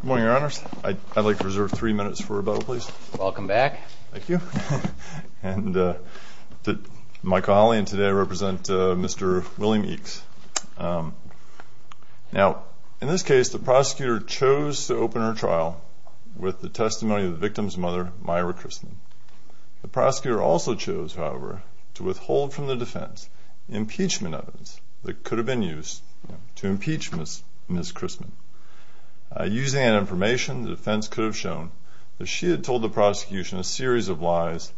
Good morning, your honors. I'd like to reserve three minutes for rebuttal, please. Welcome back. Thank you. And my colleague today, I represent Mr. William Eakes. Now, in this case, the prosecutor chose to open her trial with the testimony of the victim's mother, Myra Chrisman. The prosecutor also chose, however, to withhold from the defense impeachment evidence that could have been used to impeach Ms. Chrisman. Using that information, the defense could have shown that she had told the prosecution a series of lies,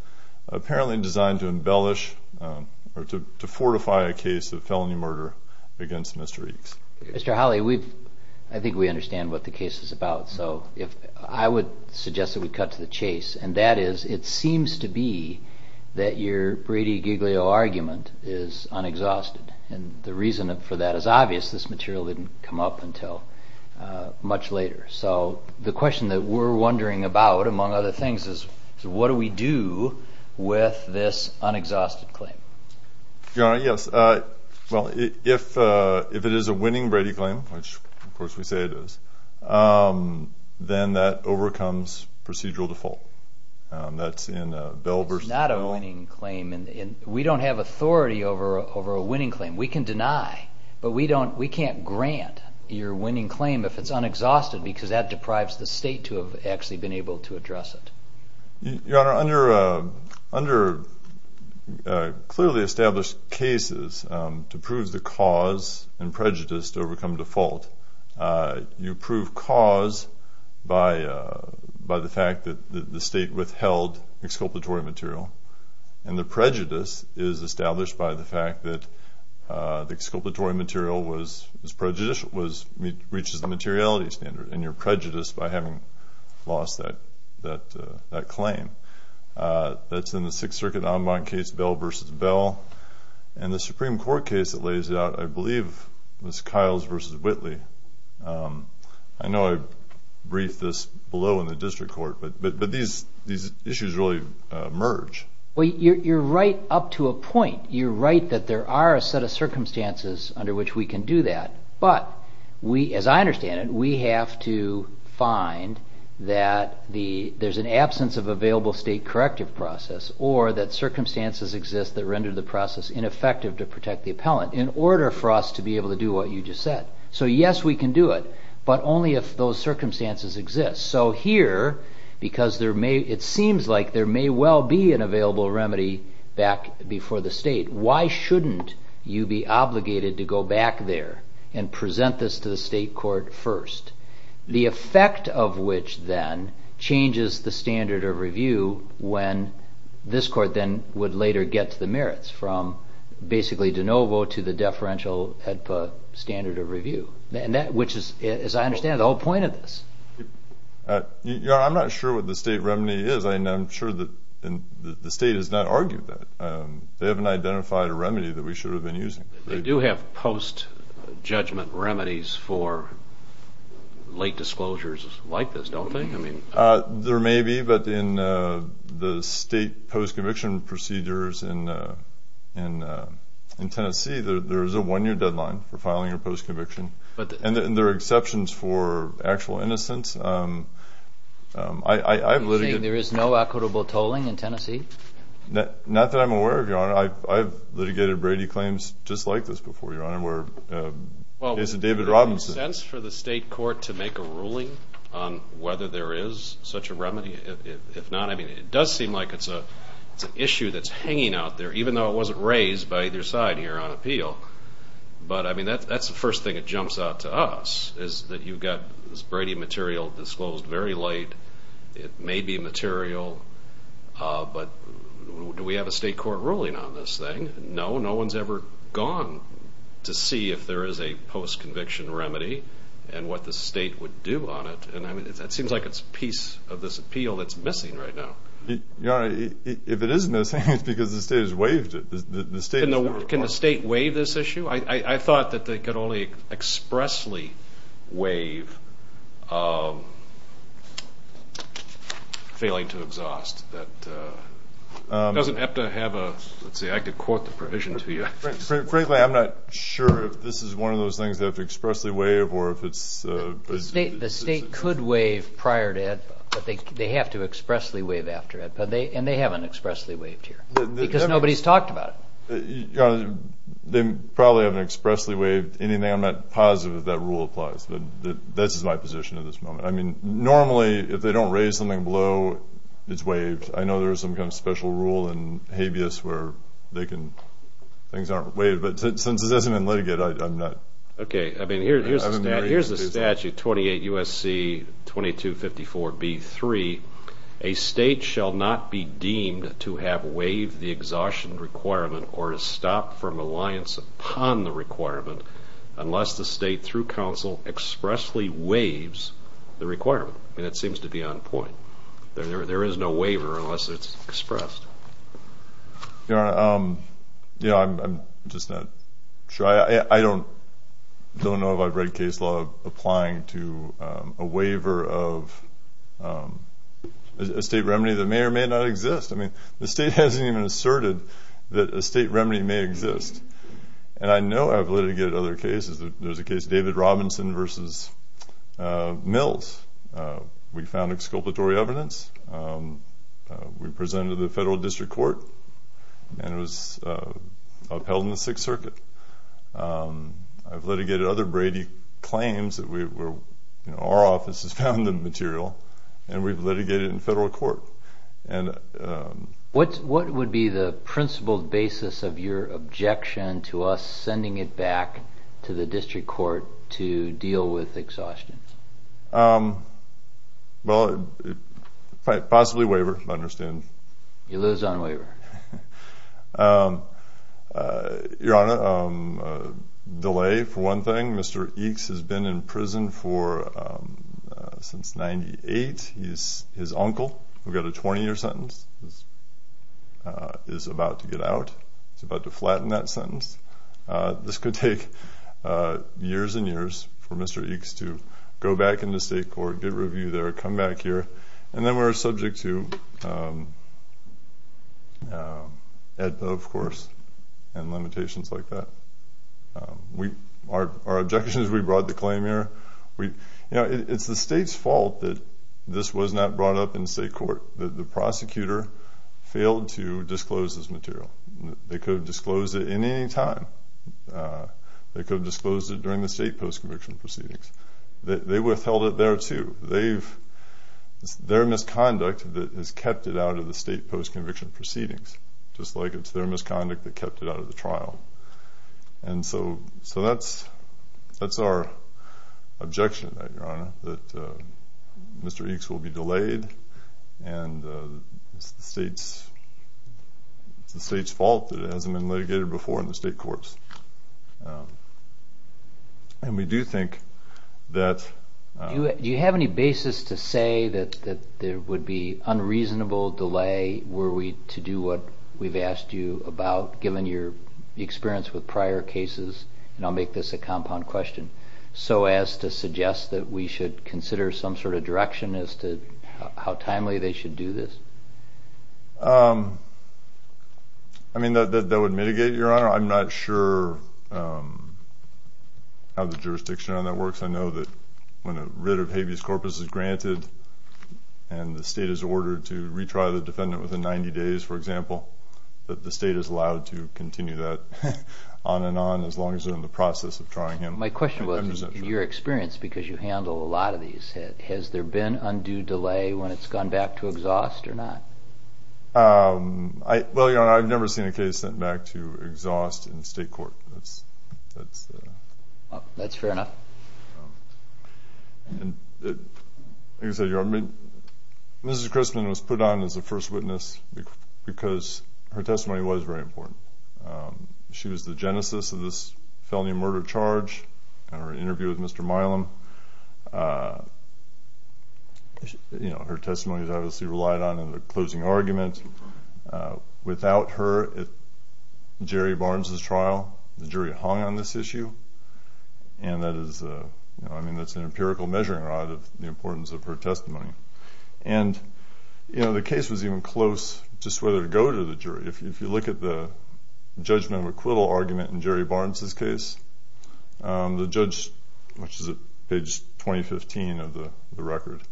apparently designed to embellish or to fortify a case of felony murder against Mr. Eakes. Mr. Hawley, I think we understand what the case is about, so I would suggest that we cut to the chase. And that is, it seems to be that your Brady-Giglio argument is unexhausted. And the reason for that is obvious. This material didn't come up until much later. So the question that we're wondering about, among other things, is what do we do with this unexhausted claim? Your Honor, yes. Well, if it is a winning Brady claim, which of course we say it is, then that overcomes procedural default. It's not a winning claim. We don't have authority over a winning claim. We can deny. But we can't grant your winning claim if it's unexhausted because that deprives the state to have actually been able to address it. Your Honor, under clearly established cases to prove the cause and prejudice to overcome default, you prove cause by the fact that the state withheld exculpatory material. And the prejudice is established by the fact that the exculpatory material reaches the materiality standard. And you're prejudiced by having lost that claim. That's in the Sixth Circuit en banc case, Bell v. Bell. In the Supreme Court case that lays it out, I believe it was Kiles v. Whitley. I know I briefed this below in the district court, but these issues really merge. Well, you're right up to a point. You're right that there are a set of circumstances under which we can do that. But as I understand it, we have to find that there's an absence of available state corrective process or that circumstances exist that render the process ineffective to protect the appellant in order for us to be able to do what you just said. So yes, we can do it, but only if those circumstances exist. So here, because it seems like there may well be an available remedy back before the state, why shouldn't you be obligated to go back there and present this to the state court first, the effect of which then changes the standard of review when this court then would later get to the merits from basically de novo to the deferential HEDPA standard of review, which is, as I understand it, the whole point of this. I'm not sure what the state remedy is, and I'm sure that the state has not argued that. They haven't identified a remedy that we should have been using. They do have post-judgment remedies for late disclosures like this, don't they? There may be, but in the state post-conviction procedures in Tennessee, there is a one-year deadline for filing a post-conviction, and there are exceptions for actual innocence. You're saying there is no equitable tolling in Tennessee? Not that I'm aware of, Your Honor. I've litigated Brady claims just like this before, Your Honor, where it's a David Robinson. Well, would it make sense for the state court to make a ruling on whether there is such a remedy? If not, I mean, it does seem like it's an issue that's hanging out there, even though it wasn't raised by either side here on appeal. But, I mean, that's the first thing that jumps out to us, is that you've got this Brady material disclosed very late. It may be material, but do we have a state court ruling on this thing? No, no one's ever gone to see if there is a post-conviction remedy and what the state would do on it. And that seems like it's a piece of this appeal that's missing right now. Your Honor, if it is missing, it's because the state has waived it. Can the state waive this issue? I thought that they could only expressly waive failing to exhaust. It doesn't have to have a – let's see, I could quote the provision to you. Frankly, I'm not sure if this is one of those things they have to expressly waive or if it's – The state could waive prior to it, but they have to expressly waive after it, and they haven't expressly waived here because nobody's talked about it. Your Honor, they probably haven't expressly waived anything. I'm not positive that that rule applies, but that's my position at this moment. I mean, normally, if they don't raise something below, it's waived. I know there is some kind of special rule in habeas where they can – things aren't waived. But since this isn't in litigate, I'm not – Okay. I mean, here's the statute, 28 U.S.C. 2254b-3. A state shall not be deemed to have waived the exhaustion requirement or to stop from reliance upon the requirement unless the state, through counsel, expressly waives the requirement. I mean, it seems to be on point. There is no waiver unless it's expressed. Your Honor, you know, I'm just not sure. I don't know if I've read case law applying to a waiver of a state remedy that may or may not exist. I mean, the state hasn't even asserted that a state remedy may exist. And I know I've litigated other cases. There was a case, David Robinson v. Mills. We found exculpatory evidence. We presented to the federal district court, and it was upheld in the Sixth Circuit. I've litigated other Brady claims that we were – you know, our office has found the material, and we've litigated in federal court. What would be the principled basis of your objection to us sending it back to the district court to deal with exhaustion? Well, possibly waiver. I understand. You lose on waiver. Your Honor, delay for one thing. Mr. Eeks has been in prison for – since 98. He's his uncle who got a 20-year sentence. He's about to get out. He's about to flatten that sentence. This could take years and years for Mr. Eeks to go back into state court, get reviewed there, come back here, and then we're subject to AEDPA, of course, and limitations like that. Our objection is we brought the claim here. You know, it's the state's fault that this was not brought up in state court, that the prosecutor failed to disclose this material. They could have disclosed it at any time. They could have disclosed it during the state post-conviction proceedings. They withheld it there, too. They've – it's their misconduct that has kept it out of the state post-conviction proceedings, just like it's their misconduct that kept it out of the trial. And so that's our objection to that, Your Honor, that Mr. Eeks will be delayed and it's the state's fault that it hasn't been litigated before in the state courts. And we do think that – Do you have any basis to say that there would be unreasonable delay were we to do what we've asked you about, given your experience with prior cases? And I'll make this a compound question. So as to suggest that we should consider some sort of direction as to how timely they should do this? I mean, that would mitigate, Your Honor. I'm not sure how the jurisdiction on that works. I know that when a writ of habeas corpus is granted and the state is ordered to retry the defendant within 90 days, for example, that the state is allowed to continue that on and on as long as they're in the process of trying him. My question was, in your experience, because you handle a lot of these, has there been undue delay when it's gone back to exhaust or not? Well, Your Honor, I've never seen a case sent back to exhaust in state court. That's fair enough. Like I said, Your Honor, Mrs. Christman was put on as a first witness because her testimony was very important. She was the genesis of this felony murder charge in her interview with Mr. Milam. Her testimony was obviously relied on in the closing argument. Without her at Jerry Barnes's trial, the jury hung on this issue, and that is an empirical measuring rod of the importance of her testimony. And the case was even close just whether to go to the jury. If you look at the judgment of acquittal argument in Jerry Barnes's case, the judge, which is at page 2015 of the record,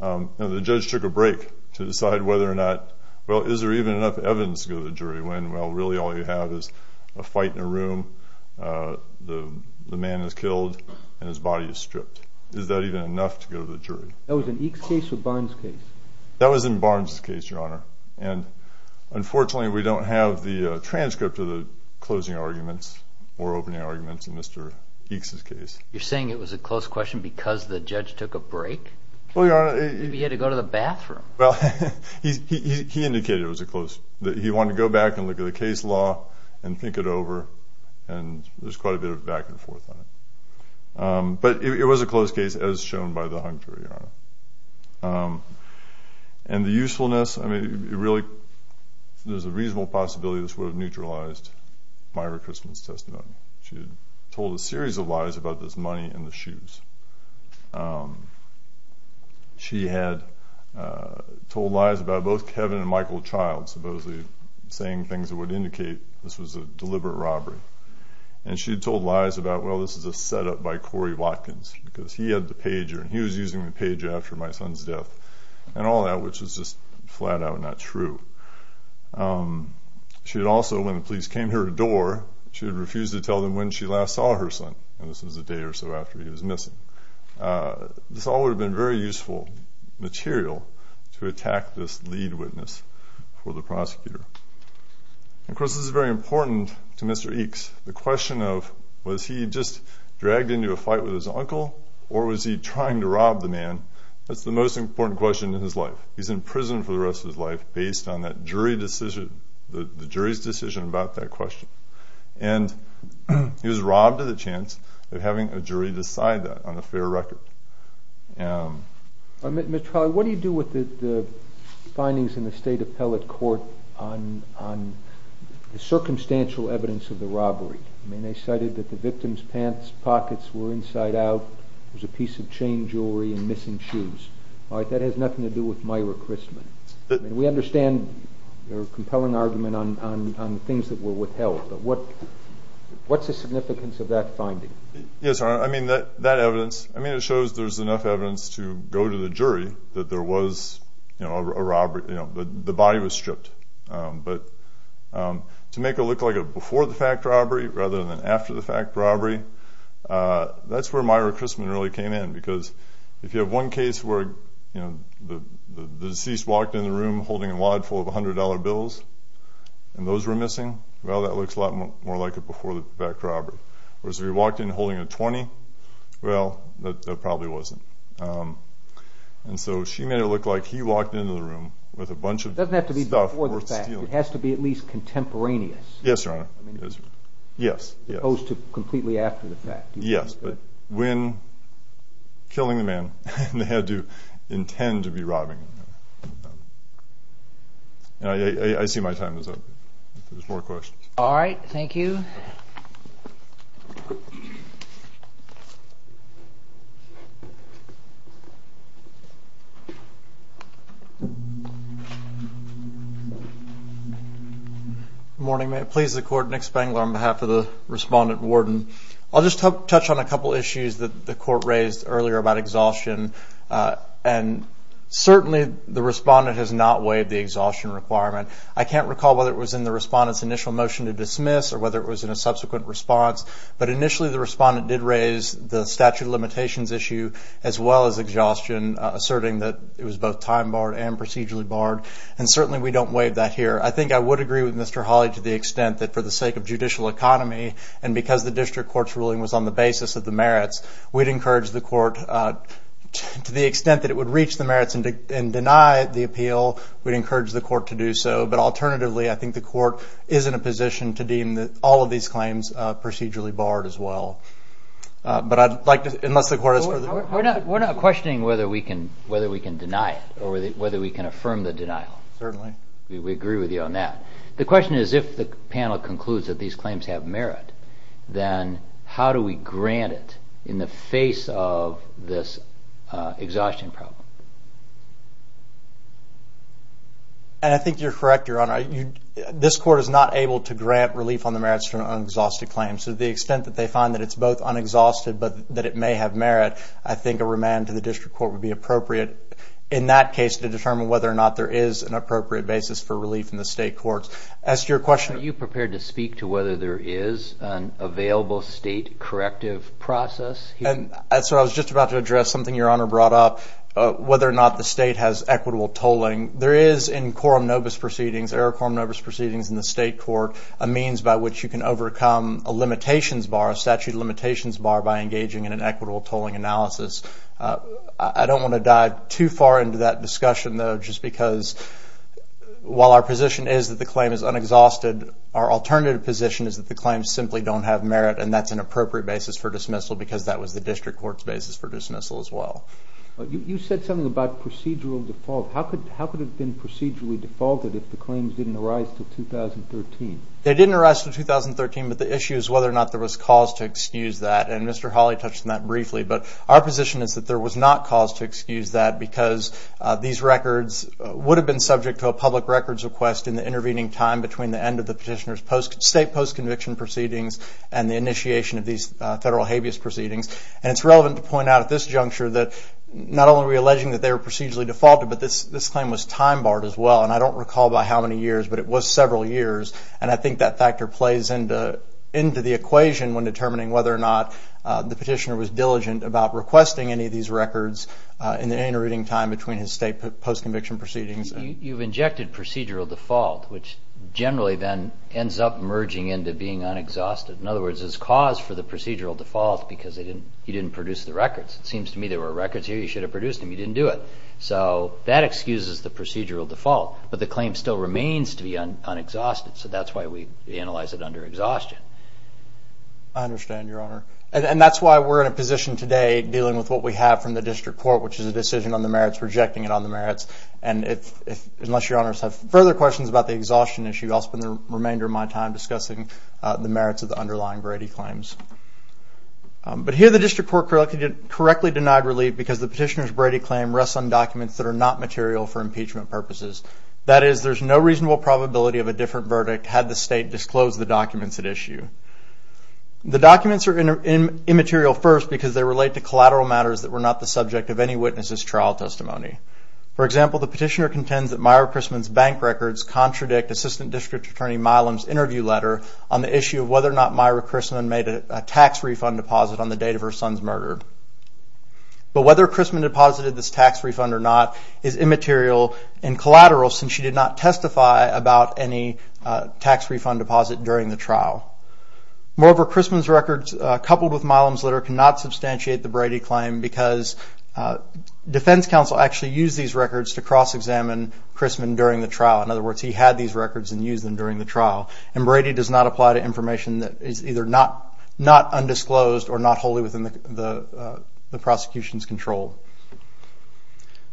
the judge took a break to decide whether or not, well, is there even enough evidence to go to the jury, when, well, really all you have is a fight in a room, the man is killed, and his body is stripped. Is that even enough to go to the jury? That was in Eke's case or Barnes's case? That was in Barnes's case, Your Honor. And, unfortunately, we don't have the transcript of the closing arguments or opening arguments in Mr. Eke's case. You're saying it was a close question because the judge took a break? Well, Your Honor. Maybe he had to go to the bathroom. Well, he indicated it was a close, that he wanted to go back and look at the case law and think it over, and there's quite a bit of back and forth on it. And the usefulness, I mean, there's a reasonable possibility this would have neutralized Myra Christman's testimony. She had told a series of lies about this money and the shoes. She had told lies about both Kevin and Michael Child supposedly saying things that would indicate this was a deliberate robbery. And she had told lies about, well, this is a setup by Corey Watkins because he had the pager, and he was using the pager after my son's death, and all that, which was just flat-out not true. She had also, when the police came to her door, she had refused to tell them when she last saw her son, and this was a day or so after he was missing. This all would have been very useful material to attack this lead witness for the prosecutor. Of course, this is very important to Mr. Eke's. The question of was he just dragged into a fight with his uncle or was he trying to rob the man, that's the most important question in his life. He's in prison for the rest of his life based on that jury decision, the jury's decision about that question. And he was robbed of the chance of having a jury decide that on a fair record. Mr. Trawley, what do you do with the findings in the State Appellate Court on the circumstantial evidence of the robbery? I mean, they cited that the victim's pants pockets were inside out, there was a piece of chain jewelry and missing shoes. That has nothing to do with Myra Christman. We understand your compelling argument on things that were withheld, but what's the significance of that finding? Yes, Your Honor, I mean, that evidence, I mean, it shows there's enough evidence to go to the jury that there was a robbery, you know, the body was stripped. But to make it look like a before-the-fact robbery rather than after-the-fact robbery, that's where Myra Christman really came in because if you have one case where, you know, the deceased walked in the room holding a wad full of $100 bills and those were missing, well, that looks a lot more like a before-the-fact robbery. Whereas if he walked in holding a $20, well, that probably wasn't. And so she made it look like he walked into the room with a bunch of stuff worth stealing. It doesn't have to be before-the-fact. It has to be at least contemporaneous. Yes, Your Honor. I mean, opposed to completely after-the-fact. Yes, but when killing the man, they had to intend to be robbing him. I see my time is up. If there's more questions. All right. Thank you. Thank you, Your Honor. Good morning. May it please the Court, Nick Spangler on behalf of the Respondent and Warden. I'll just touch on a couple of issues that the Court raised earlier about exhaustion. And certainly the Respondent has not waived the exhaustion requirement. I can't recall whether it was in the Respondent's initial motion to dismiss or whether it was in a subsequent response. But initially the Respondent did raise the statute of limitations issue as well as exhaustion, asserting that it was both time-barred and procedurally barred. And certainly we don't waive that here. I think I would agree with Mr. Hawley to the extent that for the sake of judicial economy and because the District Court's ruling was on the basis of the merits, we'd encourage the Court to the extent that it would reach the merits and deny the appeal, we'd encourage the Court to do so. But alternatively, I think the Court is in a position to deem all of these claims procedurally barred as well. But I'd like to, unless the Court has further... We're not questioning whether we can deny it or whether we can affirm the denial. Certainly. We agree with you on that. The question is if the panel concludes that these claims have merit, then how do we grant it in the face of this exhaustion problem? And I think you're correct, Your Honor. This Court is not able to grant relief on the merits of an un-exhausted claim. So to the extent that they find that it's both un-exhausted but that it may have merit, I think a remand to the District Court would be appropriate in that case to determine whether or not there is an appropriate basis for relief in the state courts. As to your question... Are you prepared to speak to whether there is an available state corrective process? And so I was just about to address something Your Honor brought up, whether or not the state has equitable tolling. There is in quorum nobis proceedings, error quorum nobis proceedings in the state court, a means by which you can overcome a limitations bar, a statute of limitations bar, by engaging in an equitable tolling analysis. I don't want to dive too far into that discussion, though, just because while our position is that the claim is un-exhausted, our alternative position is that the claims simply don't have merit and that's an appropriate basis for dismissal because that was the District Court's basis for dismissal as well. You said something about procedural default. How could it have been procedurally defaulted if the claims didn't arise until 2013? They didn't arise until 2013, but the issue is whether or not there was cause to excuse that. And Mr. Hawley touched on that briefly. But our position is that there was not cause to excuse that because these records would have been subject to a public records request in the intervening time between the end of the petitioner's state post-conviction proceedings and the initiation of these federal habeas proceedings. And it's relevant to point out at this juncture that not only were we alleging that they were procedurally defaulted, but this claim was time-barred as well. And I don't recall by how many years, but it was several years. And I think that factor plays into the equation when determining whether or not the petitioner was diligent about requesting any of these records in the intervening time between his state post-conviction proceedings. You've injected procedural default, which generally then ends up merging into being unexhausted. In other words, it's cause for the procedural default because you didn't produce the records. It seems to me there were records here you should have produced, and you didn't do it. So that excuses the procedural default. But the claim still remains to be unexhausted, so that's why we analyze it under exhaustion. I understand, Your Honor. And that's why we're in a position today dealing with what we have from the district court, which is a decision on the merits, rejecting it on the merits. Unless Your Honors have further questions about the exhaustion issue, I'll spend the remainder of my time discussing the merits of the underlying Brady claims. But here the district court correctly denied relief because the petitioner's Brady claim rests on documents that are not material for impeachment purposes. That is, there's no reasonable probability of a different verdict had the state disclosed the documents at issue. The documents are immaterial first because they relate to collateral matters that were not the subject of any witness's trial testimony. For example, the petitioner contends that Myra Chrisman's bank records contradict Assistant District Attorney Milam's interview letter on the issue of whether or not Myra Chrisman made a tax refund deposit on the date of her son's murder. But whether Chrisman deposited this tax refund or not is immaterial and collateral since she did not testify about any tax refund deposit during the trial. Moreover, Chrisman's records coupled with Milam's letter cannot substantiate the Brady claim because defense counsel actually used these records to cross-examine Chrisman during the trial. In other words, he had these records and used them during the trial. And Brady does not apply to information that is either not undisclosed or not wholly within the prosecution's control.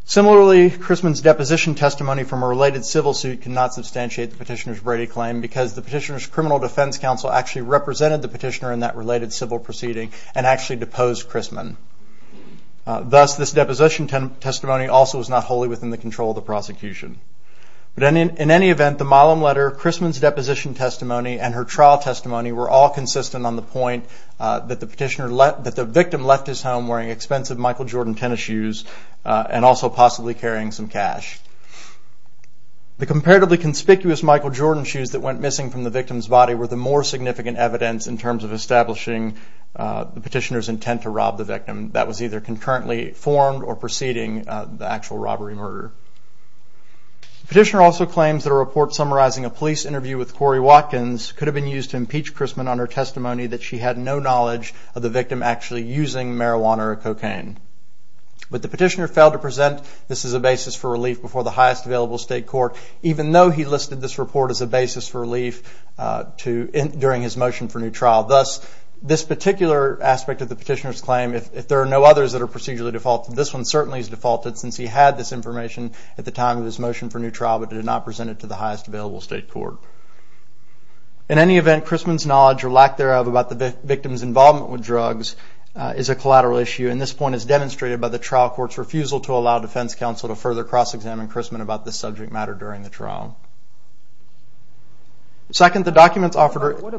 Similarly, Chrisman's deposition testimony from a related civil suit cannot substantiate the petitioner's Brady claim because the petitioner's criminal defense counsel actually represented the petitioner in that related civil proceeding and actually deposed Chrisman. Thus, this deposition testimony also was not wholly within the control of the prosecution. But in any event, the Milam letter, Chrisman's deposition testimony, and her trial testimony were all consistent on the point that the victim left his home wearing expensive Michael Jordan tennis shoes and also possibly carrying some cash. The comparatively conspicuous Michael Jordan shoes that went missing from the victim's body were the more significant evidence in terms of establishing the petitioner's intent to rob the victim. That was either concurrently formed or preceding the actual robbery murder. The petitioner also claims that a report summarizing a police interview with Corey Watkins could have been used to impeach Chrisman on her testimony that she had no knowledge of the victim actually using marijuana or cocaine. But the petitioner failed to present this as a basis for relief before the highest available state court, even though he listed this report as a basis for relief during his motion for new trial. Thus, this particular aspect of the petitioner's claim, if there are no others that are procedurally defaulted, this one certainly is defaulted since he had this information at the time of his motion for new trial, but did not present it to the highest available state court. In any event, Chrisman's knowledge or lack thereof about the victim's involvement with drugs is a collateral issue, and this point is demonstrated by the trial court's refusal to allow defense counsel to further cross-examine Chrisman about this subject matter during the trial. Second, the documents offered are... What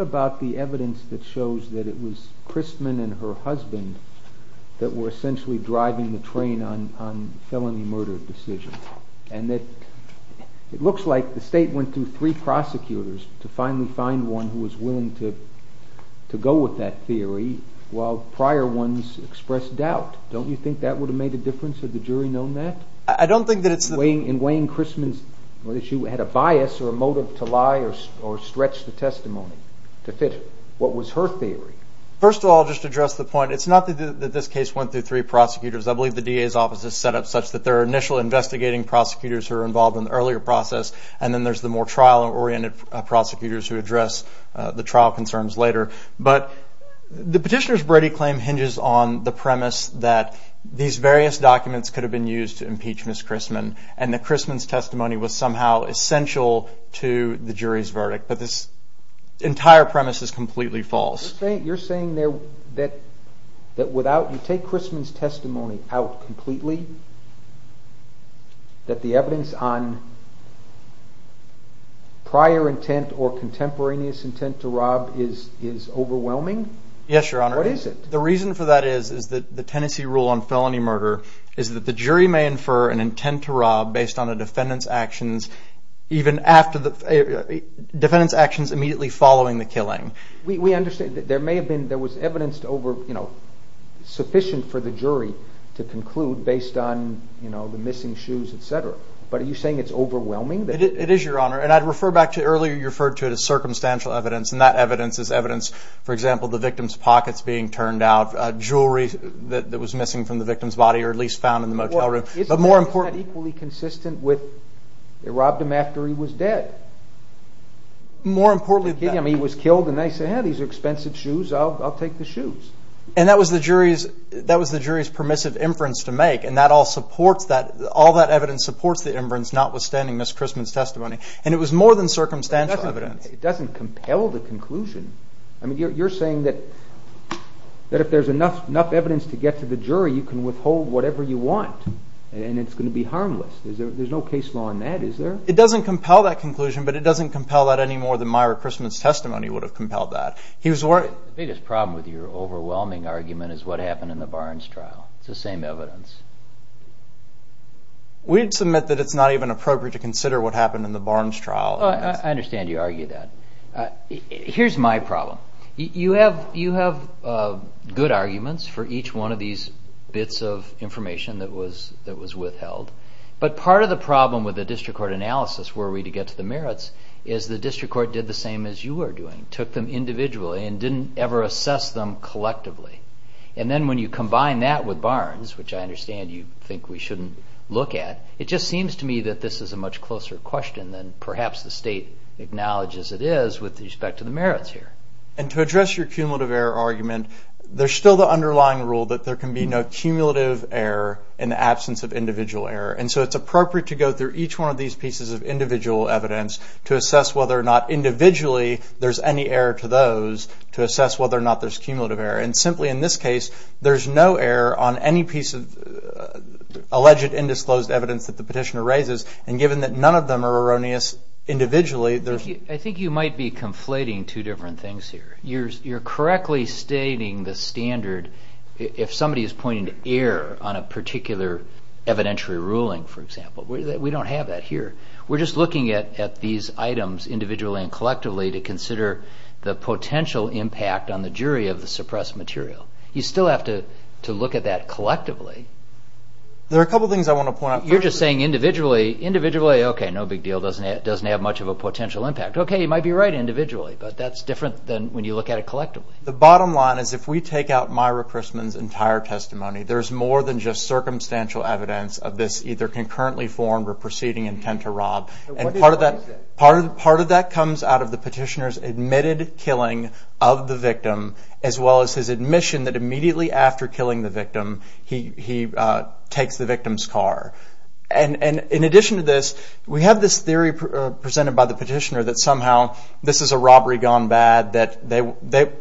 about the evidence that shows that it was Chrisman and her husband that were essentially driving the train on felony murder decisions? And it looks like the state went through three prosecutors to finally find one who was willing to go with that theory, while prior ones expressed doubt. Don't you think that would have made a difference? Had the jury known that? I don't think that it's the... In weighing Chrisman's... Whether she had a bias or a motive to lie or stretch the testimony to fit what was her theory. First of all, I'll just address the point. It's not that this case went through three prosecutors. I believe the DA's office is set up such that there are initial investigating prosecutors who are involved in the earlier process, and then there's the more trial-oriented prosecutors who address the trial concerns later. But the petitioner's Brady claim hinges on the premise that these various documents could have been used to impeach Ms. Chrisman, and that Chrisman's testimony was somehow essential to the jury's verdict. But this entire premise is completely false. You're saying that without... You take Chrisman's testimony out completely, that the evidence on prior intent or contemporaneous intent to rob is overwhelming? Yes, Your Honor. What is it? The reason for that is that the Tennessee rule on felony murder is that the jury may infer an intent to rob based on a defendant's actions even after the... Defendant's actions immediately following the killing. We understand. There may have been... There was evidence to over... You know, sufficient for the jury to conclude based on, you know, the missing shoes, et cetera. But are you saying it's overwhelming? It is, Your Honor. And I'd refer back to... Earlier you referred to it as circumstantial evidence, and that evidence is evidence, for example, the victim's pockets being turned out, jewelry that was missing from the victim's body or at least found in the motel room. But more importantly... It's not equally consistent with they robbed him after he was dead. More importantly... He was killed, and they said, Yeah, these are expensive shoes. I'll take the shoes. And that was the jury's permissive inference to make, and all that evidence supports the inference notwithstanding Ms. Chrisman's testimony. And it was more than circumstantial evidence. It doesn't compel the conclusion. I mean, you're saying that if there's enough evidence to get to the jury, you can withhold whatever you want, and it's going to be harmless. There's no case law in that, is there? It doesn't compel that conclusion, but it doesn't compel that any more than Myra Chrisman's testimony would have compelled that. He was worried... The biggest problem with your overwhelming argument is what happened in the Barnes trial. It's the same evidence. We'd submit that it's not even appropriate to consider what happened in the Barnes trial. I understand you argue that. Here's my problem. You have good arguments for each one of these bits of information that was withheld, but part of the problem with the district court analysis, were we to get to the merits, is the district court did the same as you were doing, took them individually and didn't ever assess them collectively. And then when you combine that with Barnes, which I understand you think we shouldn't look at, it just seems to me that this is a much closer question than perhaps the state acknowledges it is with respect to the merits here. And to address your cumulative error argument, there's still the underlying rule that there can be no cumulative error in the absence of individual error. And so it's appropriate to go through each one of these pieces of individual evidence to assess whether or not individually there's any error to those to assess whether or not there's cumulative error. And simply in this case, there's no error on any piece of alleged undisclosed evidence that the petitioner raises, and given that none of them are erroneous individually... I think you might be conflating two different things here. You're correctly stating the standard if somebody is pointing to error on a particular evidentiary ruling, for example. We don't have that here. We're just looking at these items individually and collectively to consider the potential impact on the jury of the suppressed material. You still have to look at that collectively. There are a couple of things I want to point out. You're just saying individually, okay, no big deal, doesn't have much of a potential impact. Okay, you might be right individually, but that's different than when you look at it collectively. The bottom line is if we take out Myra Chrisman's entire testimony, there's more than just circumstantial evidence of this either concurrently formed or proceeding intent to rob. Part of that comes out of the petitioner's admitted killing of the victim, as well as his admission that immediately after killing the victim, he takes the victim's car. In addition to this, we have this theory presented by the petitioner that somehow this is a robbery gone bad. Mr.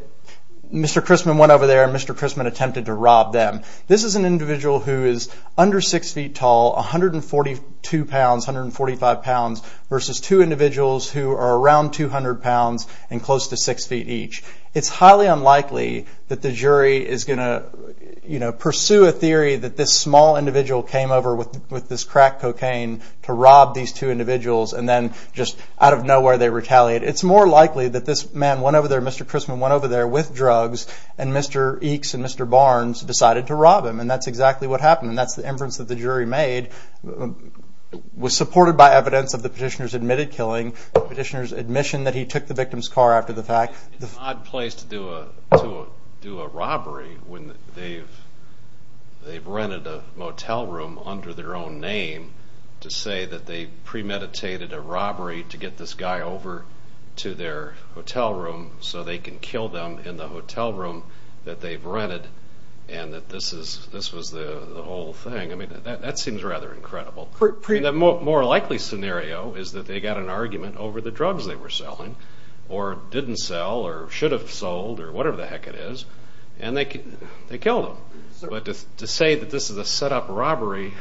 Chrisman went over there and Mr. Chrisman attempted to rob them. This is an individual who is under six feet tall, 142 pounds, 145 pounds, versus two individuals who are around 200 pounds and close to six feet each. It's highly unlikely that the jury is going to pursue a theory that this small individual came over with this crack cocaine to rob these two individuals and then just out of nowhere they retaliate. It's more likely that this man went over there, Mr. Chrisman went over there with drugs, and Mr. Eakes and Mr. Barnes decided to rob him. That's exactly what happened. That's the inference that the jury made was supported by evidence of the petitioner's admitted killing, the petitioner's admission that he took the victim's car after the fact. It's an odd place to do a robbery when they've rented a motel room under their own name to say that they premeditated a robbery to get this guy over to their hotel room so they can kill them in the hotel room that they've rented and that this was the whole thing. That seems rather incredible. The more likely scenario is that they got an argument over the drugs they were selling or didn't sell or should have sold or whatever the heck it is and they killed him. But to say that this is a set-up robbery,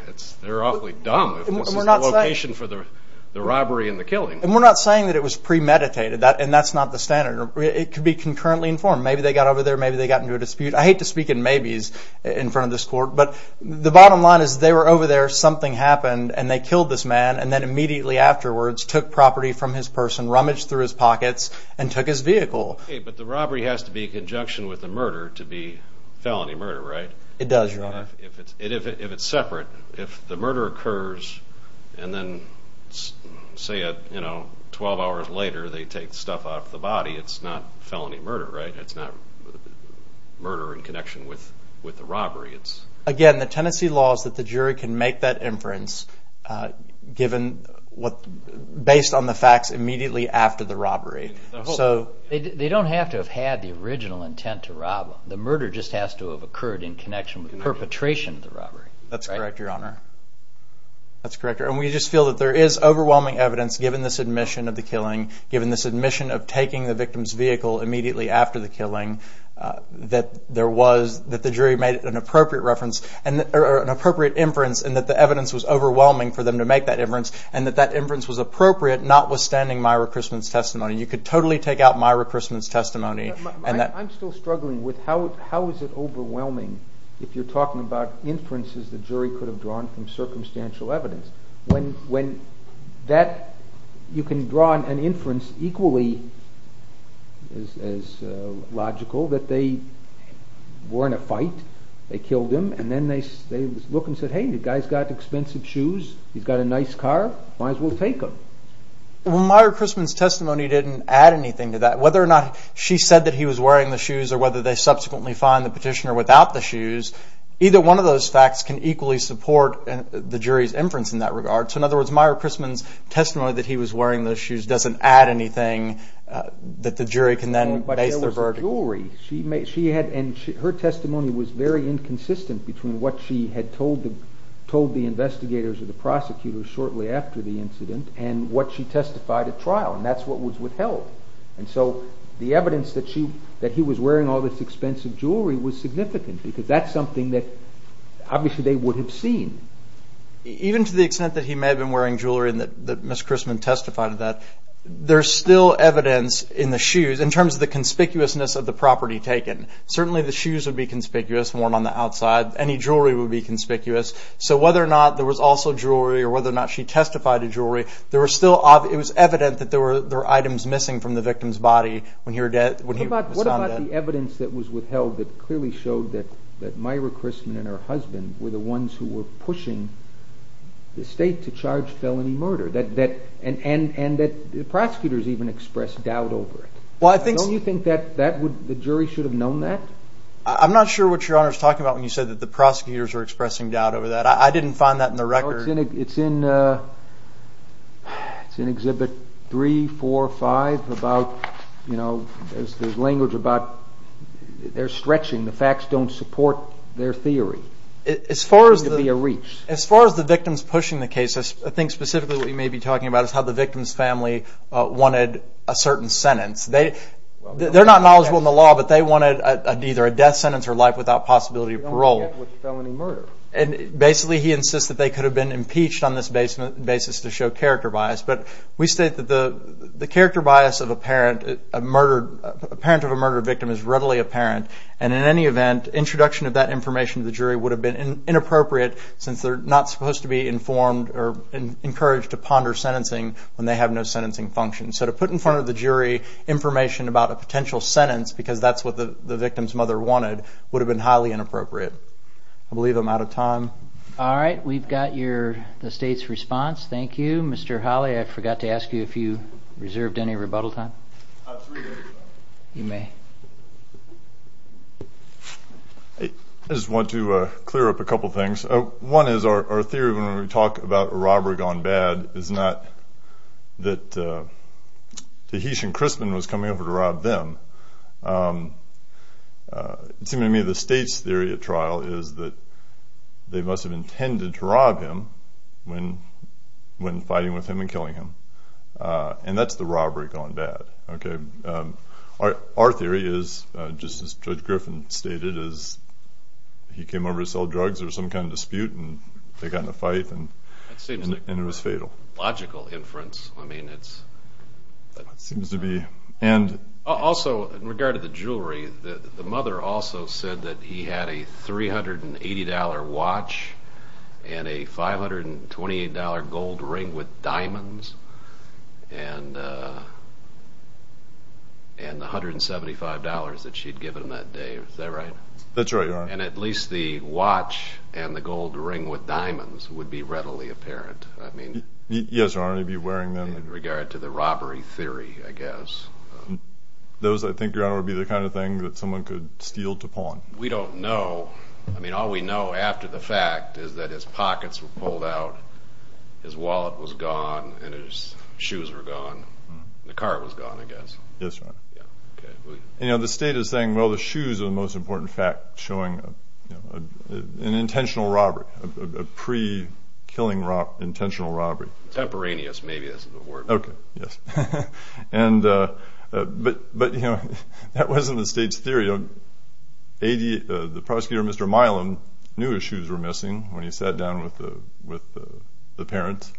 they're awfully dumb if this is the location for the robbery and the killing. And we're not saying that it was premeditated and that's not the standard. It could be concurrently informed. Maybe they got over there, maybe they got into a dispute. I hate to speak in maybes in front of this court, but the bottom line is they were over there, something happened, and they killed this man and then immediately afterwards took property from his person, rummaged through his pockets, and took his vehicle. But the robbery has to be in conjunction with the murder to be felony murder, right? It does, Your Honor. If it's separate, if the murder occurs and then, say, 12 hours later they take stuff off the body, it's not felony murder, right? It's not murder in connection with the robbery. Again, the tenancy law is that the jury can make that inference based on the facts immediately after the robbery. They don't have to have had the original intent to rob them. The murder just has to have occurred in connection with the perpetration of the robbery. That's correct, Your Honor. And we just feel that there is overwhelming evidence given this admission of the killing, given this admission of taking the victim's vehicle immediately after the killing, that the jury made an appropriate inference and that the evidence was overwhelming for them to make that inference and that that inference was appropriate notwithstanding my reprisonment's testimony. You could totally take out my reprisonment's testimony. I'm still struggling with how is it overwhelming if you're talking about inferences the jury could have drawn from circumstantial evidence, when you can draw an inference equally as logical that they were in a fight, they killed him, and then they look and say, hey, the guy's got expensive shoes, he's got a nice car, might as well take him. Well, Myra Chrisman's testimony didn't add anything to that. Whether or not she said that he was wearing the shoes or whether they subsequently find the petitioner without the shoes, either one of those facts can equally support the jury's inference in that regard. So in other words, Myra Chrisman's testimony that he was wearing the shoes doesn't add anything that the jury can then base the verdict... But there was a jury. And her testimony was very inconsistent between what she had told the investigators or the prosecutors shortly after the incident and what she testified at trial, and that's what was withheld. And so the evidence that he was wearing all this expensive jewelry was significant because that's something that obviously they would have seen. Even to the extent that he may have been wearing jewelry and that Ms. Chrisman testified of that, there's still evidence in the shoes in terms of the conspicuousness of the property taken. Certainly the shoes would be conspicuous, more than on the outside. Any jewelry would be conspicuous. So whether or not there was also jewelry or whether or not she testified of jewelry, it was evident that there were items missing from the victim's body when he was found dead. What about the evidence that was withheld that clearly showed that Myra Chrisman and her husband were the ones who were pushing the state to charge felony murder and that the prosecutors even expressed doubt over it? Don't you think the jury should have known that? I'm not sure what Your Honor is talking about when you said that the prosecutors were expressing doubt over that. I didn't find that in the record. It's in Exhibit 3, 4, 5. There's language about they're stretching. The facts don't support their theory. As far as the victims pushing the case, I think specifically what you may be talking about is how the victim's family wanted a certain sentence. They're not knowledgeable in the law, but they wanted either a death sentence or life without possibility of parole. Basically, he insists that they could have been impeached on this basis to show character bias. We state that the character bias of a parent of a murdered victim is readily apparent, and in any event, introduction of that information to the jury would have been inappropriate since they're not supposed to be informed or encouraged to ponder sentencing when they have no sentencing function. So to put in front of the jury information about a potential sentence because that's what the victim's mother wanted would have been highly inappropriate. I believe I'm out of time. All right, we've got the state's response. Thank you. Mr. Holley, I forgot to ask you if you reserved any rebuttal time. I have three minutes. You may. I just want to clear up a couple things. One is our theory when we talk about a robbery gone bad is not that Tahitian Crispin was coming over to rob them. It seemed to me the state's theory at trial is that they must have intended to rob him when fighting with him and killing him, and that's the robbery gone bad. Our theory is, just as Judge Griffin stated, is he came over to sell drugs. There was some kind of dispute, and they got in a fight, and it was fatal. That seems like logical inference. Also, in regard to the jewelry, the mother also said that he had a $380 watch and a $528 gold ring with diamonds and the $175 that she'd given him that day. Is that right? That's right, Your Honor. And at least the watch and the gold ring with diamonds would be readily apparent. Yes, Your Honor, he'd be wearing them. In regard to the robbery theory, I guess. Those, I think, Your Honor, would be the kind of thing that someone could steal to pawn. We don't know. I mean, all we know after the fact is that his pockets were pulled out, his wallet was gone, and his shoes were gone. The car was gone, I guess. Yes, Your Honor. And the state is saying, well, the shoes are the most important fact showing an intentional robbery, a pre-killing intentional robbery. Temporaneous, maybe, is the word. Okay, yes. But that wasn't the state's theory. The prosecutor, Mr. Milam, knew his shoes were missing when he sat down with the parents,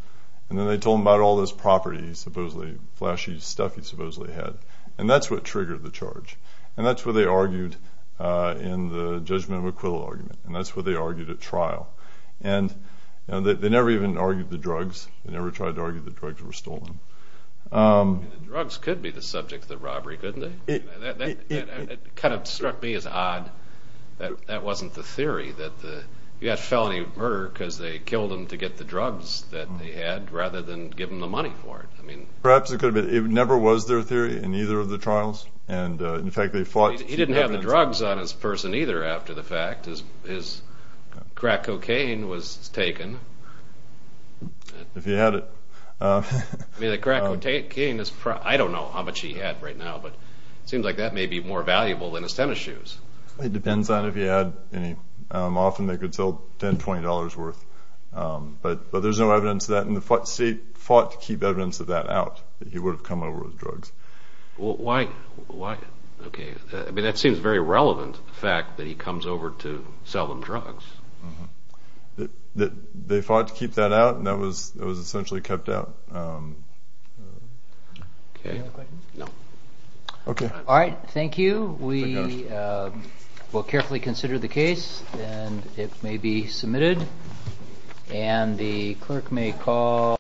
and then they told him about all this property, supposedly flashy stuff he supposedly had, and that's what triggered the charge. And that's what they argued in the judgment of acquittal argument, and that's what they argued at trial. And they never even argued the drugs. They never tried to argue the drugs were stolen. The drugs could be the subject of the robbery, couldn't they? It kind of struck me as odd that that wasn't the theory, that you had felony murder because they killed him to get the drugs that they had rather than give him the money for it. Perhaps it could have been. It never was their theory in either of the trials. He didn't have the drugs on his person either after the fact. His crack cocaine was taken. If he had it. I mean, the crack cocaine is probably, I don't know how much he had right now, but it seems like that may be more valuable than his tennis shoes. It depends on if he had any. Often they could sell $10, $20 worth. But there's no evidence of that, and the state fought to keep evidence of that out, that he would have come over with drugs. Why? I mean, that seems very relevant, the fact that he comes over to sell them drugs. They fought to keep that out, and that was essentially kept out. Any other questions? No. Okay. All right, thank you. We will carefully consider the case, and it may be submitted. And the clerk may call.